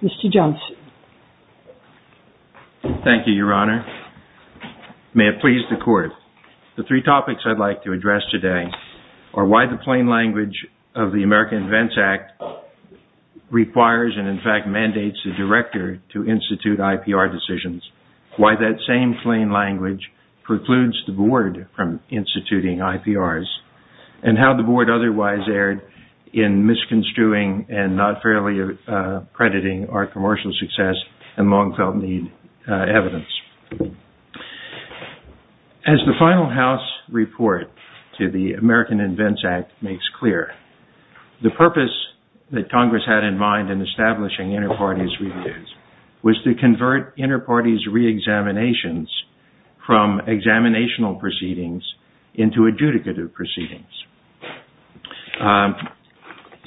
Mr. Johnson Thank you, Your Honor. May it please the Court, the three topics I'd like to address today are why the plain language of the American Events Act requires and in fact mandates the Director to institute IPR decisions, why that same plain language precludes the Board from instituting IPRs, and how the Board otherwise erred in misconstruing and not fairly accrediting our commercial success and long-felt-need evidence. As the final House report to the American Events Act makes clear, the purpose that Congress had in mind in establishing inter-parties reviews was to convert inter-parties re-examinations from examinational proceedings into adjudicative proceedings.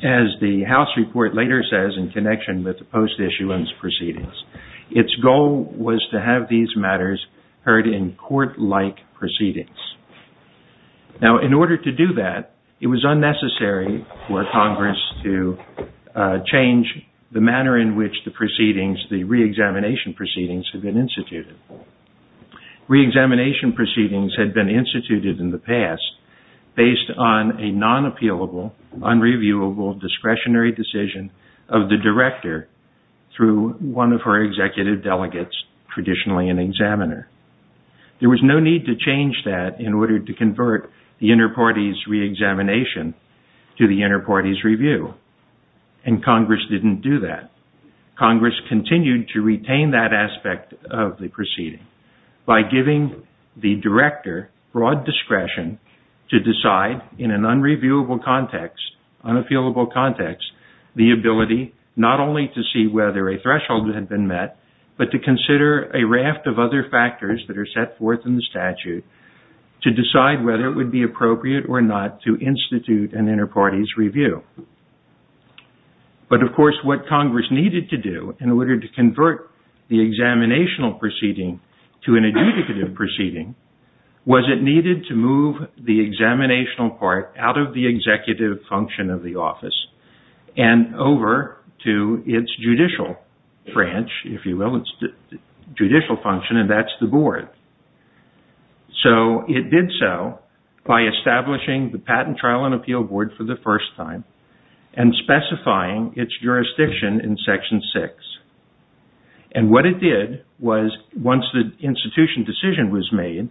As the House report later says in connection with the post-issuance proceedings, its goal was to have these matters heard in court-like proceedings. Now in order to do that, it was unnecessary for Congress to change the manner in which the proceedings, the re-examination proceedings, had been instituted. Re-examination proceedings had been instituted in the past based on a non-appealable, unreviewable, discretionary decision of the Director through one of her executive delegates, traditionally an examiner. There was no need to change that in order to convert the inter-parties re-examination to the inter-parties review, and Congress didn't do that. Congress continued to retain that aspect of the proceeding by giving the Director broad discretion to decide in an unreviewable context, unappealable context, the ability not only to see whether a threshold had been met, but to consider a raft of other factors that are set forth in the statute to decide whether it would be appropriate or not to institute an inter-parties review. But of course, what Congress needed to do in order to convert the examinational proceeding to an adjudicative proceeding was it needed to move the examinational part out of the executive function of the office and over to its judicial branch, if you will, its judicial branch. So it did so by establishing the Patent Trial and Appeal Board for the first time and specifying its jurisdiction in Section 6. And what it did was, once the institution decision was made,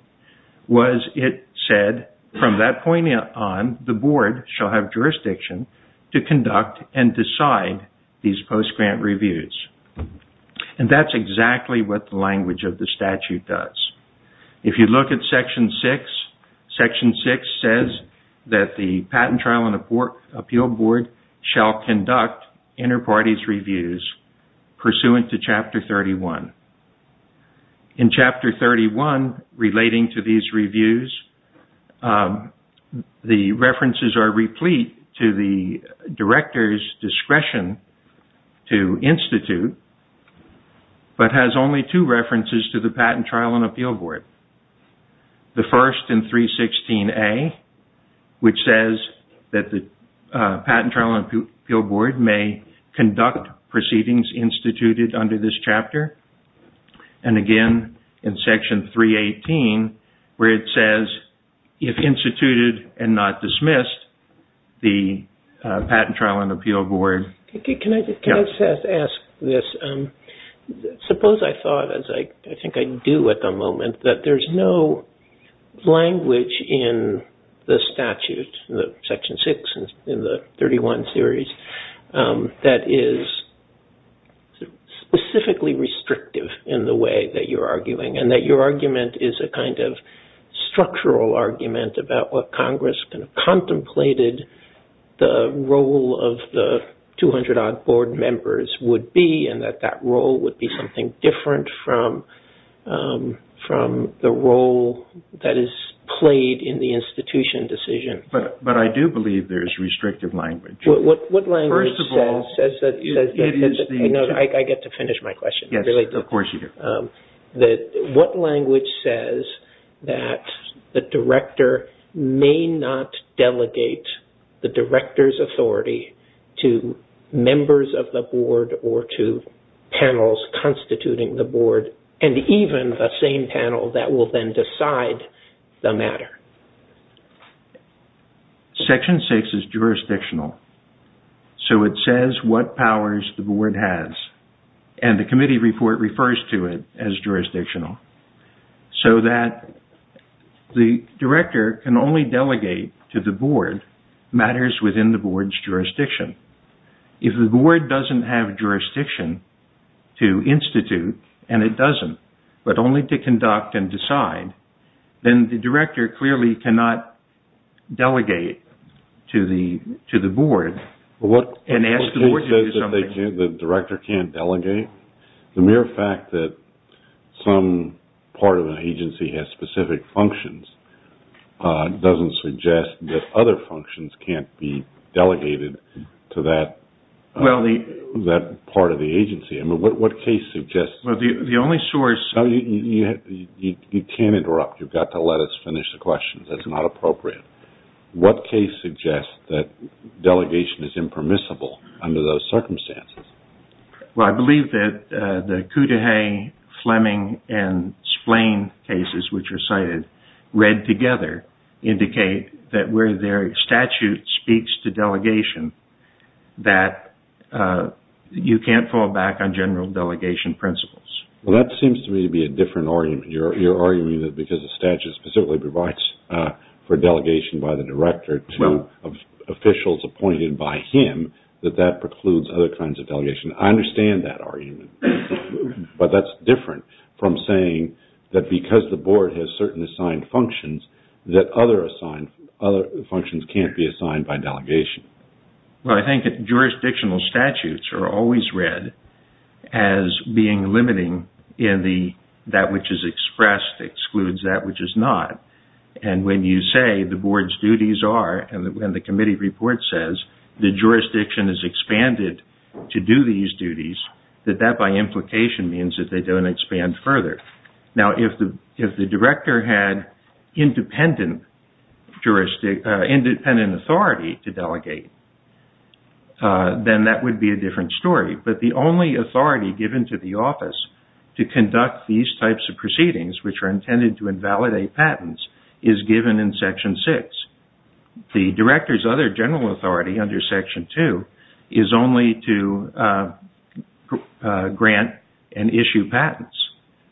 was it said, from that point on, the Board shall have jurisdiction to conduct and decide these post-grant reviews. And that is exactly what the language of the statute does. If you look at Section 6, Section 6 says that the Patent Trial and Appeal Board shall conduct inter-parties reviews pursuant to Chapter 31. In Chapter 31, relating to these reviews, the references are replete to the Director's discretion to institute, but has only two references to the Patent Trial and Appeal Board. The first in 316A, which says that the Patent Trial and Appeal Board may conduct proceedings instituted under this chapter. And again, in Section 318, where it says, if instituted and not dismissed, the Patent Trial and Appeal Board. Can I just ask this? Suppose I thought, as I think I do at the moment, that there's no language in the statute, Section 6 in the 31 series, that is specifically restrictive in the way that you're arguing and that your argument is a kind of structural argument about what Congress contemplated the role of the 200-odd board members would be and that that role would be something different from the role that is played in the institution decision. But I do believe there's restrictive language. What language says that... I get to finish my question. Yes, of course you do. What language says that the director may not delegate the director's authority to members of the board or to panels constituting the board and even the same panel that will then decide the matter? Section 6 is jurisdictional. So it says what powers the board has. And the committee report refers to it as jurisdictional. So that the director can only delegate to the board matters within the board's jurisdiction. If the board doesn't have jurisdiction to institute, and it doesn't, but only to conduct and decide, then the director clearly cannot delegate to the board and ask the board to do something. The fact that the director can't delegate, the mere fact that some part of the agency has specific functions doesn't suggest that other functions can't be delegated to that part of the agency. I mean, what case suggests... The only source... No, you can't interrupt. You've got to let us finish the question. That's not appropriate. What case suggests that delegation is impermissible under those circumstances? Well, I believe that the Cudahy, Fleming, and Splane cases, which are cited, read together indicate that where their statute speaks to delegation, that you can't fall back on general delegation principles. Well, that seems to me to be a different argument. You're arguing that because the statute specifically provides for delegation by the director to officials appointed by him, that that precludes other kinds of delegation. I understand that argument, but that's different from saying that because the board has certain assigned functions, that other functions can't be assigned by delegation. Well, I think jurisdictional statutes are always read as being limiting in the that which is expressed excludes that which is not. And when you say the board's duties are, and when the committee report says the jurisdiction is expanded to do these duties, that that by implication means that they don't expand further. Now, if the director had independent jurisdiction, independent authority to delegate, then that would be a different story. But the only authority given to the office to conduct these types of proceedings, which are intended to invalidate patents, is given in Section 6. The director's other general authority under Section 2 is only to grant and issue patents,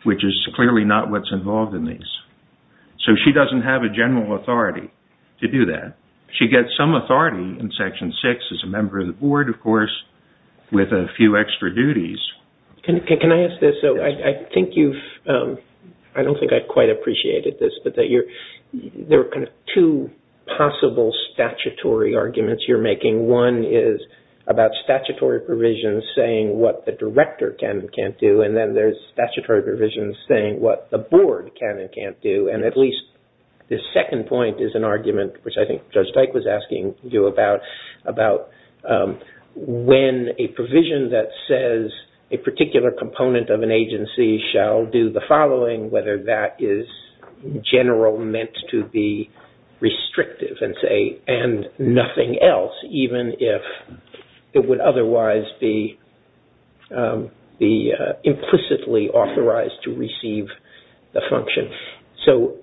which is clearly not what's involved in these. So, she doesn't have a general authority to do that. She gets some authority in Section 6 as a member of the board, of course, with a few extra duties. Can I ask this? So, I think you've, I don't think I quite appreciated this, but that you're, there are kind of two possible statutory arguments you're making. One is about statutory provisions saying what the director can and can't do. And then there's statutory provisions saying what the board can and can't do. And at least the second point is an argument, which I think Judge Dyke was asking you about, about when a provision that says a particular component of an agency shall do the following, whether that is general meant to be restrictive and say, and nothing else, even if it would otherwise be implicitly authorized to receive the function. So,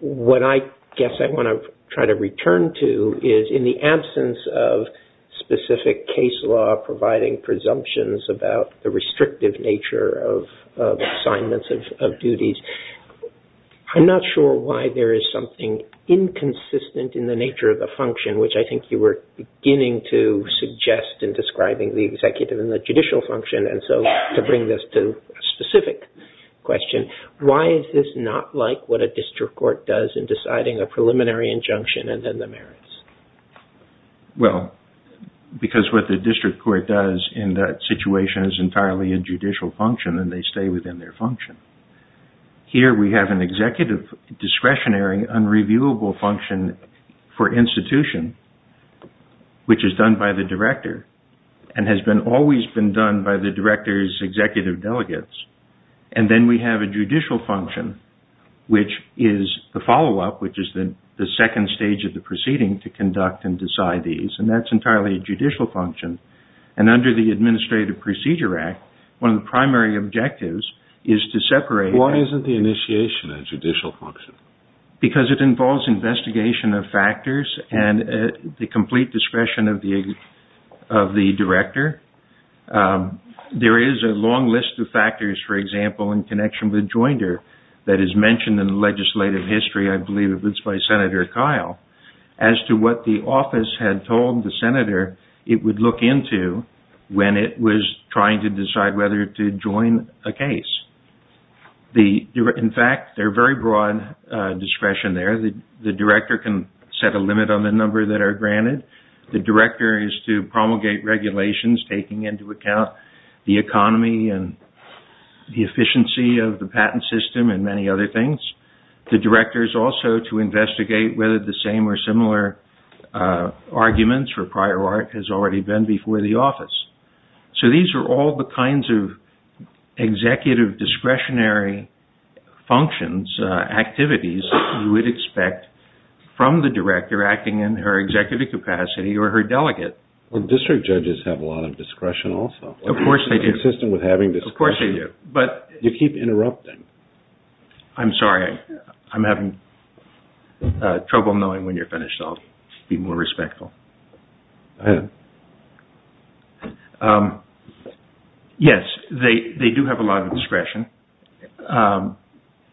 what I guess I want to try to return to is in the absence of specific case law providing presumptions about the restrictive nature of assignments of duties, I'm not sure why there is something inconsistent in the nature of the function, which I think you were beginning to suggest in describing the executive and the judicial function. And so, to bring this to a specific question, why is this not like what a district court does in deciding a preliminary injunction and then the merits? Well, because what the district court does in that situation is entirely a judicial function and they stay within their function. Here, we have an executive discretionary unreviewable function for institution, which is done by the director and has always been done by the director's executive delegates. And then we have a judicial function, which is the follow up, which is the second stage of the proceeding to conduct and decide these. And that's entirely a judicial function. And under the Administrative Procedure Act, one of the primary objectives is to separate Why isn't the initiation a judicial function? Because it involves investigation of factors and the complete discretion of the director. There is a long list of factors, for example, in connection with joinder that is mentioned in the legislative history, I believe it's by Senator Kyle, as to what the office had called the senator, it would look into when it was trying to decide whether to join a case. In fact, there are very broad discretion there. The director can set a limit on the number that are granted. The director is to promulgate regulations, taking into account the economy and the efficiency of the patent system and many other things. The director is also to investigate whether the same or similar arguments for prior art has already been before the office. So these are all the kinds of executive discretionary functions, activities you would expect from the director acting in her executive capacity or her delegate. Well, district judges have a lot of discretion also. Of course they do. Consistent with having discretion. Of course they do. But you keep interrupting. I'm sorry, I'm having trouble knowing when you're finished, so I'll be more respectful. Yes, they do have a lot of discretion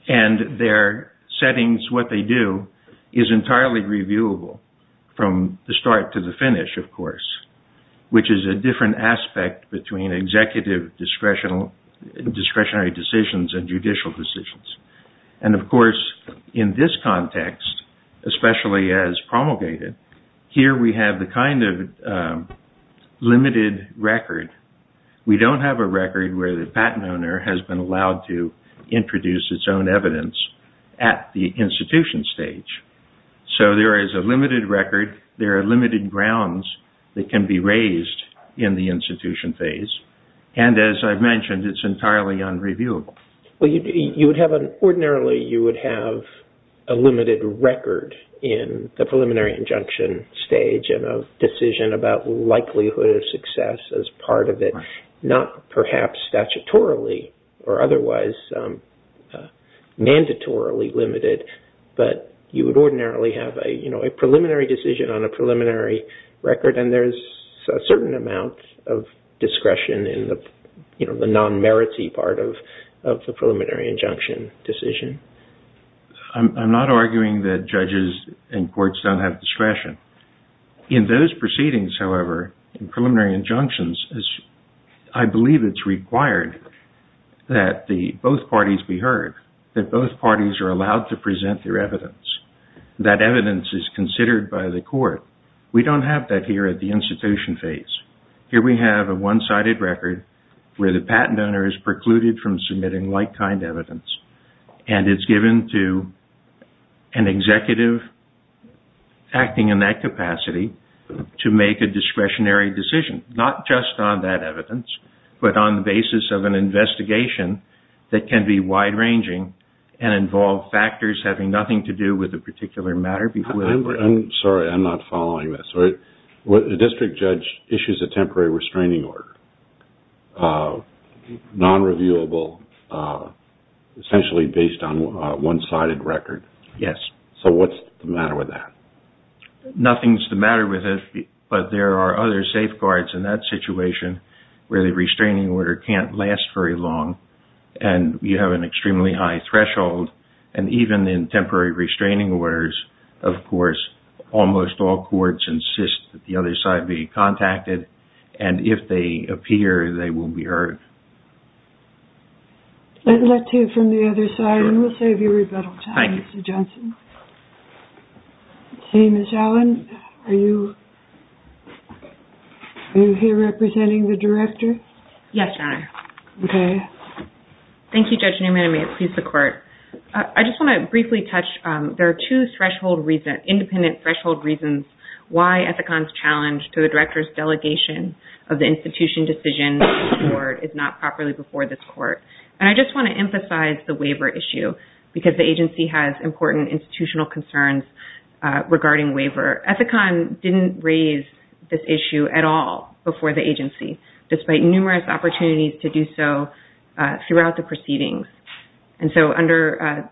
and their settings, what they do is entirely reviewable from the start to the finish, of course, which is a different aspect between executive discretionary decisions and judicial decisions. And of course, in this context, especially as promulgated, here we have the kind of limited record. We don't have a record where the patent owner has been allowed to introduce its own evidence at the institution stage. So there is a limited record. There are limited grounds that can be raised in the institution phase. And as I've mentioned, it's entirely unreviewable. Well, ordinarily you would have a limited record in the preliminary injunction stage and a decision about likelihood of success as part of it, not perhaps statutorily or otherwise mandatorily limited, but you would ordinarily have a preliminary decision on the non-merity part of the preliminary injunction decision. I'm not arguing that judges and courts don't have discretion. In those proceedings, however, in preliminary injunctions, I believe it's required that both parties be heard, that both parties are allowed to present their evidence, that evidence is considered by the court. We don't have that here at the institution phase. Here we have a one-sided record where the patent owner is precluded from submitting like-kind evidence, and it's given to an executive acting in that capacity to make a discretionary decision, not just on that evidence, but on the basis of an investigation that can be wide-ranging and involve factors having nothing to do with a particular matter. Sorry, I'm not following this. A district judge issues a temporary restraining order, non-reviewable, essentially based on one-sided record. Yes. So what's the matter with that? Nothing's the matter with it, but there are other safeguards in that situation where the restraining order can't last very long and you have an extremely high threshold. And even in temporary restraining orders, of course, almost all courts insist that the other side be contacted, and if they appear, they will be heard. Let's hear from the other side, and we'll save you rebuttal time, Mr. Johnson. Okay, Ms. Allen, are you here representing the director? Yes, Your Honor. Okay. Thank you, Judge Newman. I may appease the court. I just want to briefly touch, there are two independent threshold reasons why Ethicon's challenge to the director's delegation of the institution decision to the court is not properly before this court. And I just want to emphasize the waiver issue because the agency has important institutional concerns regarding waiver. Ethicon didn't raise this issue at all before the agency, despite numerous opportunities to do so throughout the proceedings. And so under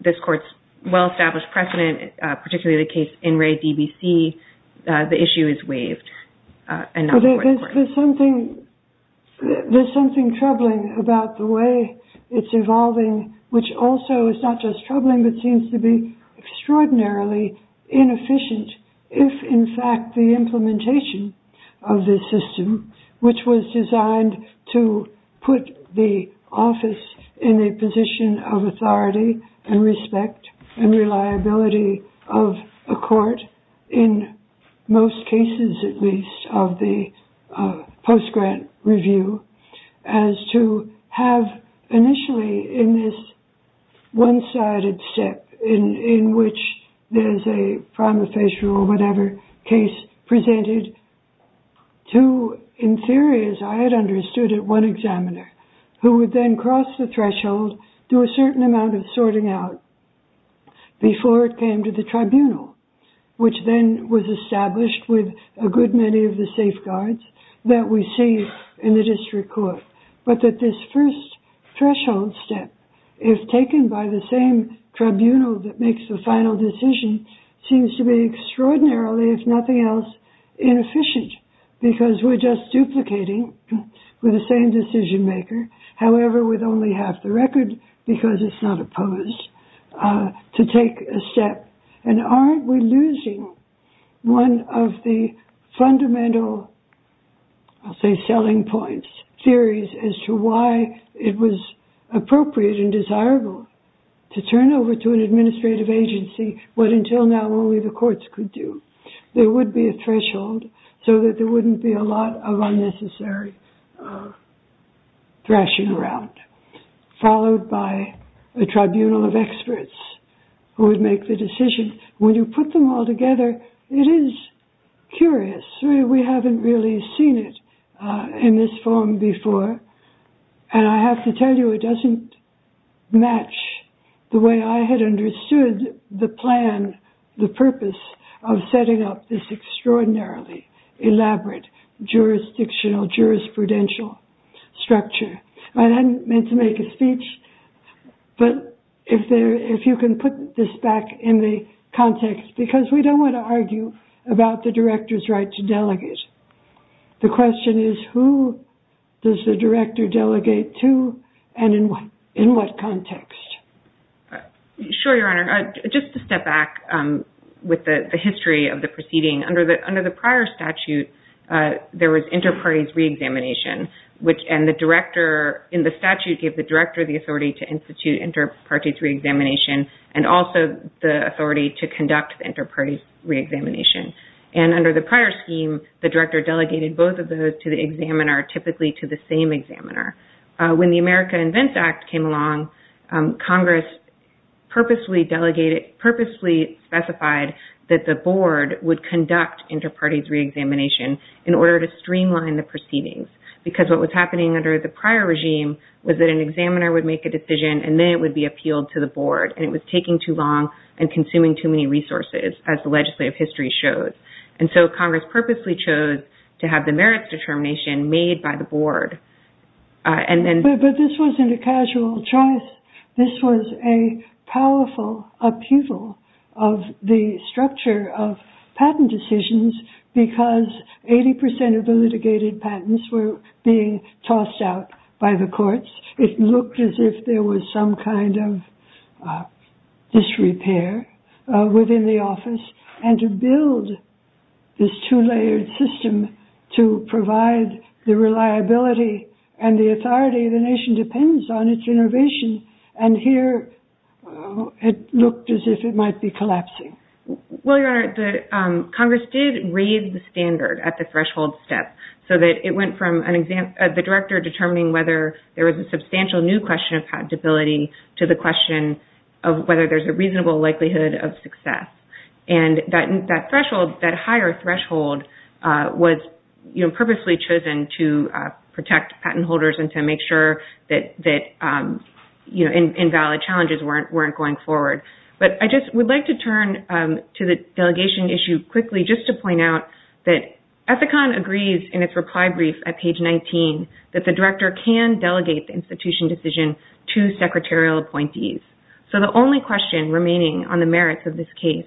this court's well-established precedent, particularly the case in Ray DBC, the issue is waived. There's something troubling about the way it's evolving, which also is not just troubling, but seems to be extraordinarily inefficient if, in fact, the implementation of this system, which was designed to put the office in a position of authority and respect and reliability of a court, in most cases at least of the post-grant review, as to have initially in this one-sided step in which there's a prima facie or whatever case presented to, in theory as I had understood it, one examiner who would then cross the threshold, do a certain amount of sorting out before it came to the tribunal, which then was established with a good many of the safeguards that we see in the district court. But that this first threshold step, if taken by the same tribunal that makes the final decision, seems to be extraordinarily, if nothing else, inefficient because we're just duplicating with the same decision maker. However, with only half the record, because it's not opposed, to take a step. And aren't we losing one of the fundamental, I'll say, selling points, theories as to why it was appropriate and desirable to turn over to an administrative agency what until now only the courts could do. There would be a threshold so that there wouldn't be a lot of unnecessary thrashing around, followed by a tribunal of experts who would make the decision. When you put them all together, it is curious. We haven't really seen it in this form before. And I have to tell you, it doesn't match the way I had understood the plan, the purpose of setting up this extraordinarily elaborate jurisdictional, jurisprudential structure. I hadn't meant to make a speech, but if you can put this back in the context, because we don't want to argue about the director's right to delegate. The question is, who does the director delegate to and in what context? Sure, Your Honor, just to step back with the history of the proceeding, under the prior statute, there was inter-parties re-examination, and the director in the statute gave the director the authority to institute inter-parties re-examination and also the authority to conduct the inter-parties re-examination. And under the prior scheme, the director delegated both of those to the examiner, typically to the same examiner. When the America Invents Act came along, Congress purposely specified that the board would conduct inter-parties re-examination in order to streamline the proceedings, because what was happening under the prior regime was that an examiner would make a decision and then it would be appealed to the board. And it was taking too long and consuming too many resources, as the legislative history shows. And so Congress purposely chose to have the merits determination made by the board. But this wasn't a casual choice. This was a powerful appeal of the structure of patent decisions because 80 percent of the litigated patents were being tossed out by the courts. It looked as if there was some kind of disrepair within the office and to build this two-layered system to provide the reliability and the authority of the nation depends on its innovation. And here it looked as if it might be collapsing. Well, Your Honor, Congress did raise the standard at the threshold step so that it went from the director determining whether there was a substantial new question of patent debility to the question of whether there's a reasonable likelihood of success. And that threshold, that higher threshold, was purposely chosen to protect patent holders and to make sure that invalid challenges weren't going forward. But I just would like to turn to the delegation issue quickly just to point out that in its reply brief at page 19, that the director can delegate the institution decision to secretarial appointees. So the only question remaining on the merits of this case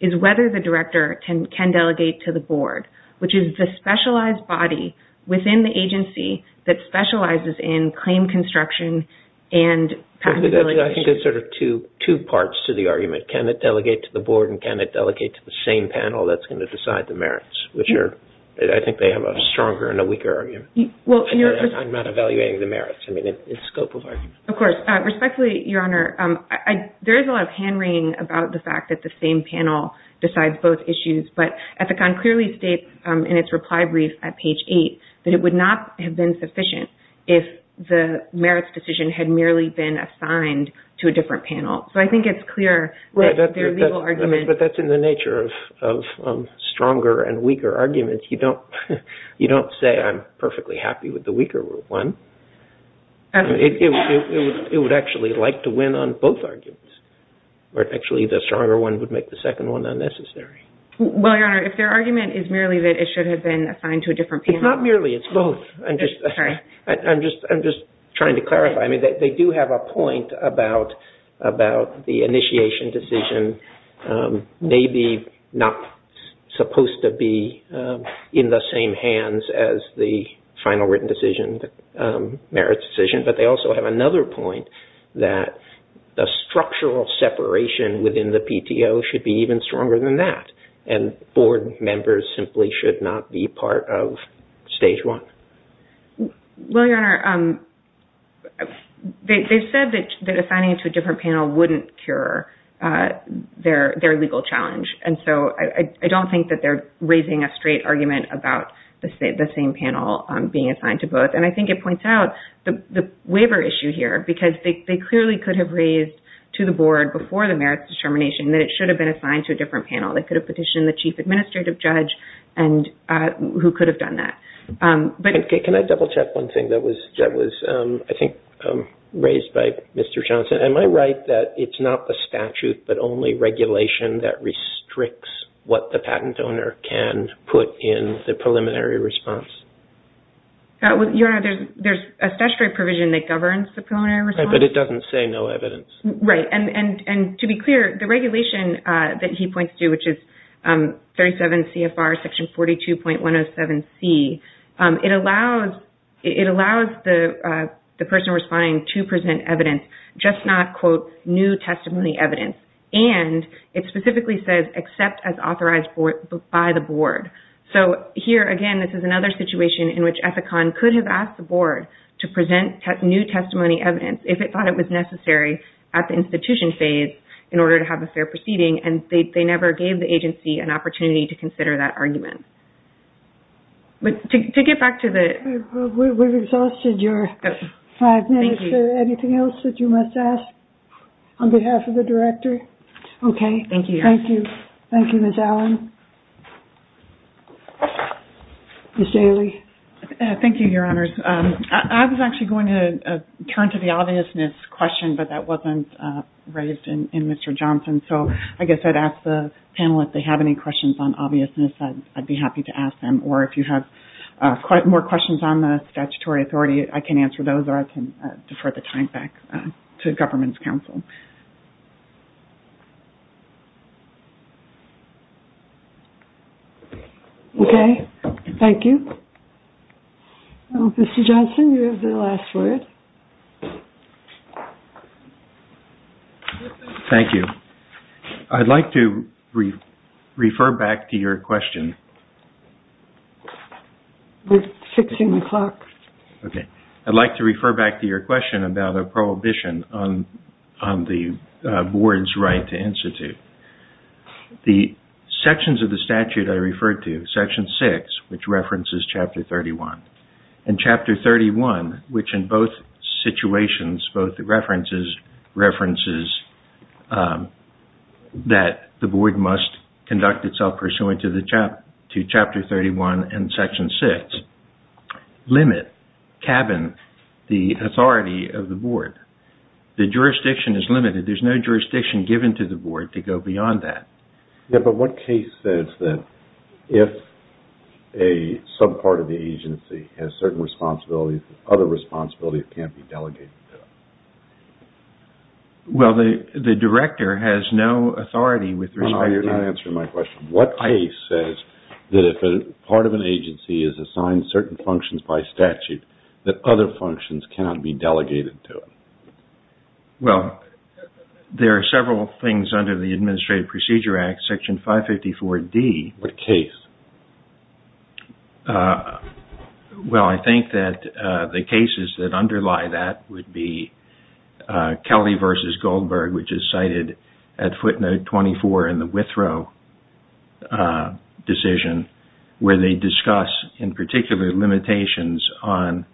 is whether the director can delegate to the board, which is the specialized body within the agency that specializes in claim construction and patent ability. I think there's sort of two parts to the argument. Can it delegate to the board and can it delegate to the same panel that's going to have a stronger and a weaker argument? Well, I'm not evaluating the merits. I mean, it's scope of argument. Of course. Respectfully, Your Honor, there is a lot of hand-wringing about the fact that the same panel decides both issues. But Ethicon clearly states in its reply brief at page 8 that it would not have been sufficient if the merits decision had merely been assigned to a different panel. So I think it's clear that their legal argument. But that's in the nature of stronger and weaker arguments. You don't say I'm perfectly happy with the weaker one. It would actually like to win on both arguments, where actually the stronger one would make the second one unnecessary. Well, Your Honor, if their argument is merely that it should have been assigned to a different panel. It's not merely. It's both. I'm just trying to clarify. I mean, they do have a point about the initiation decision maybe not supposed to be in the same hands as the final written decision, the merits decision. But they also have another point that the structural separation within the PTO should be even stronger than that. And board members simply should not be part of stage one. Well, Your Honor, they said that assigning it to a different panel wouldn't cure their legal challenge. And so I don't think that they're raising a straight argument about the same panel being assigned to both. And I think it points out the waiver issue here, because they clearly could have raised to the board before the merits determination that it should have been assigned to a different panel. They could have petitioned the chief administrative judge who could have done that. Can I double check one thing that was, I think, raised by Mr. Johnson? Am I right that it's not the statute, but only regulation that restricts what the patent owner can put in the preliminary response? Your Honor, there's a statutory provision that governs the preliminary response. But it doesn't say no evidence. Right. And to be clear, the regulation that he points to, which is 37 CFR section 42.107C, it allows the person responding to present evidence, just not, quote, new testimony evidence. And it specifically says except as authorized by the board. So here again, this is another situation in which Ethicon could have asked the board to present new testimony evidence if it thought it was necessary at the institution phase in order to have a fair proceeding. And they never gave the agency an opportunity to consider that argument. But to get back to the... We've exhausted your five minutes. Is there anything else that you must ask on behalf of the director? Okay. Thank you. Thank you, Ms. Allen. Ms. Daly. Thank you, Your Honors. I was actually going to turn to the obviousness question, but that wasn't raised in Mr. Johnson. So I guess I'd ask the panel if they have any questions on obviousness. I'd be happy to ask them. Or if you have more questions on the statutory authority, I can answer those or I can defer the time back to the government's counsel. Okay. Thank you. Mr. Johnson, you have the last word. Thank you. I'd like to refer back to your question. We're fixing the clock. Okay. I'd like to refer back to your question about a prohibition on the board's right to institute. The sections of the statute I referred to, Section 6, which references Chapter 31. And Chapter 31, which in both situations, both the references, references that the board must conduct itself pursuant to Chapter 31 and Section 6, limit, cabin the authority of the board. The jurisdiction is limited. There's no jurisdiction given to the board to go beyond that. Yeah, but what case says that if a subpart of the agency has certain responsibilities, other responsibilities can't be delegated to them? Well, the director has no authority with respect to that. No, you're not answering my question. What case says that if a part of an agency is assigned certain functions by statute, that other functions cannot be delegated to it? Well, there are several things under the Administrative Procedure Act, Section 554D. What case? Well, I think that the cases that underlie that would be Kelly v. Goldberg, which is cited at footnote 24 in the Withrow decision, where they discuss, in particular, limitations on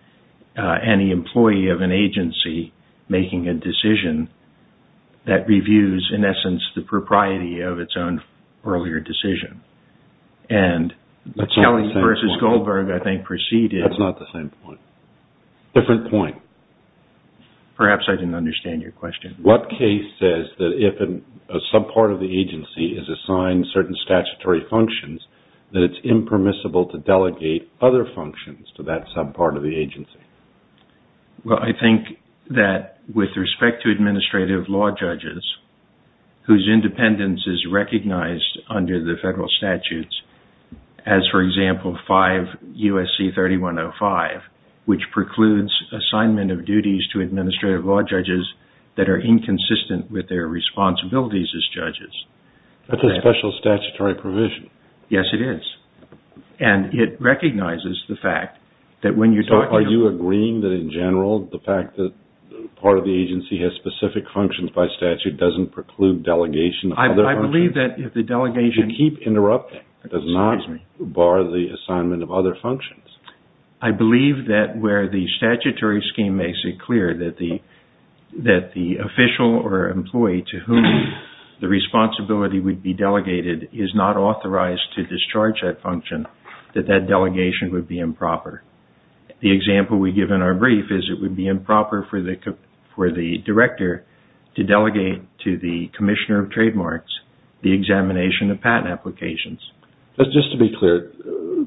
any employee of an agency making a decision that reviews, in essence, the propriety of its own earlier decision. And Kelly v. Goldberg, I think, preceded. That's not the same point. Different point. Perhaps I didn't understand your question. What case says that if a subpart of the agency is assigned certain statutory functions, that it's impermissible to delegate other functions to that subpart of the agency? Well, I think that with respect to administrative law judges, whose independence is under federal statutes, as, for example, 5 U.S.C. 3105, which precludes assignment of duties to administrative law judges that are inconsistent with their responsibilities as judges. That's a special statutory provision. Yes, it is. And it recognizes the fact that when you talk to... So, are you agreeing that, in general, the fact that part of the agency has specific functions by statute doesn't preclude delegation of other functions? I believe that if the delegation... You keep interrupting. Excuse me. It does not bar the assignment of other functions. I believe that where the statutory scheme makes it clear that the official or employee to whom the responsibility would be delegated is not authorized to discharge that function, that that delegation would be improper. The example we give in our brief is it would be improper for the director to delegate to the commissioner of trademarks the examination of patent applications. But just to be clear,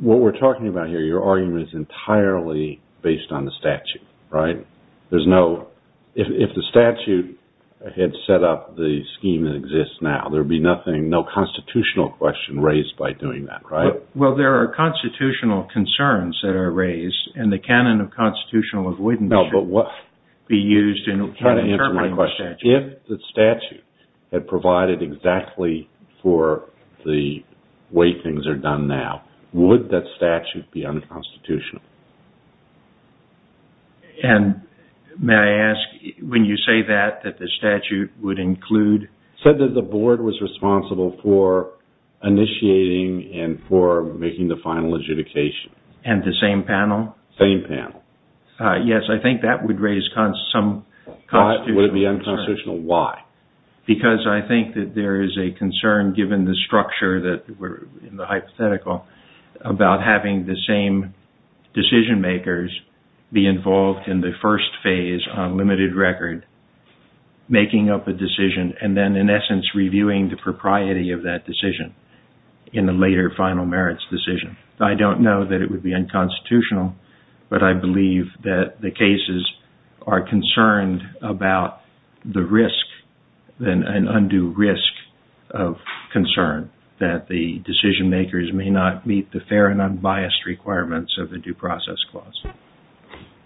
what we're talking about here, your argument is entirely based on the statute, right? There's no... If the statute had set up the scheme that exists now, there'd be nothing, no constitutional question raised by doing that, right? Well, there are constitutional concerns that are raised, and the canon of constitutional avoidance should be used in... If the statute had provided exactly for the way things are done now, would that statute be unconstitutional? And may I ask, when you say that, that the statute would include... Said that the board was responsible for initiating and for making the final legitimation. And the same panel? Same panel. Yes, I think that would raise some... Would it be unconstitutional? Why? Because I think that there is a concern, given the structure that we're in, the hypothetical, about having the same decision makers be involved in the first phase on limited record, making up a decision and then, in essence, reviewing the propriety of that decision in the later final merits decision. I don't know that it would be unconstitutional, but I believe that the cases are concerned about the risk, an undue risk of concern, that the decision makers may not meet the fair and unbiased requirements of the due process clause.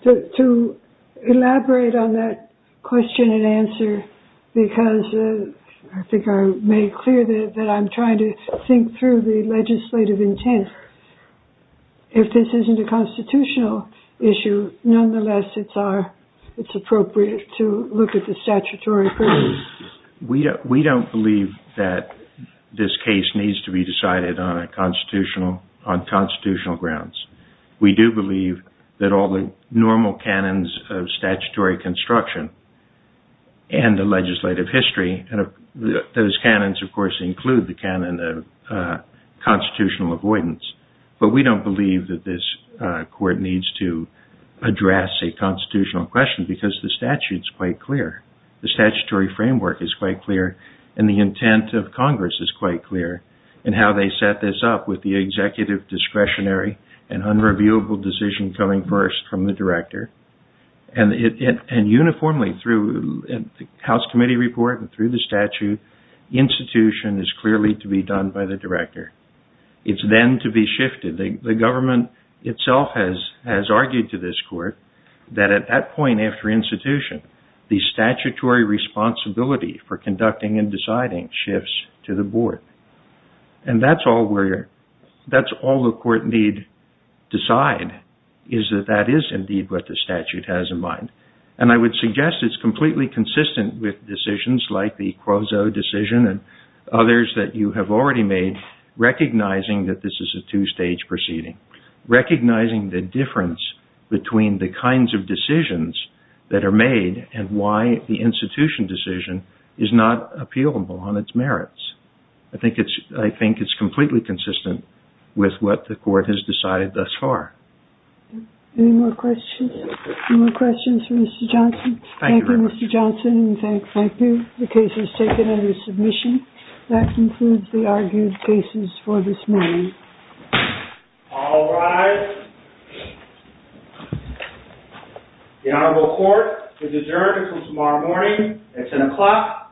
To elaborate on that question and answer, because I think I made clear that I'm trying to think through the legislative intent, if this isn't a constitutional issue, nonetheless, it's appropriate to look at the statutory. We don't believe that this case needs to be decided on constitutional grounds. We do believe that all the normal canons of statutory construction and the legislative history, those canons, of course, include the canon of constitutional avoidance, but we don't believe that this court needs to address a constitutional question because the statute is quite clear. The statutory framework is quite clear and the intent of Congress is quite clear in how they set this up with the executive discretionary and unreviewable decision coming first from the director and uniformly through the House committee report and through the statute, the institution is clearly to be done by the director. It's then to be shifted. The government itself has argued to this court that at that point after institution, the statutory responsibility for conducting and deciding shifts to the board. And that's all the court need decide, is that that is indeed what the statute has in mind. And I would suggest it's completely consistent with decisions like the Quozo decision and others that you have already made, recognizing that this is a two-stage proceeding, recognizing the difference between the kinds of decisions that are made and why the institution decision is not appealable on its merits. I think it's I think it's completely consistent with what the court has decided thus far. Any more questions, more questions for Mr. Johnson? Thank you, Mr. Johnson. That concludes the argued cases for this morning. All rise. The Honorable Court is adjourned until tomorrow morning at 10 o'clock a.m.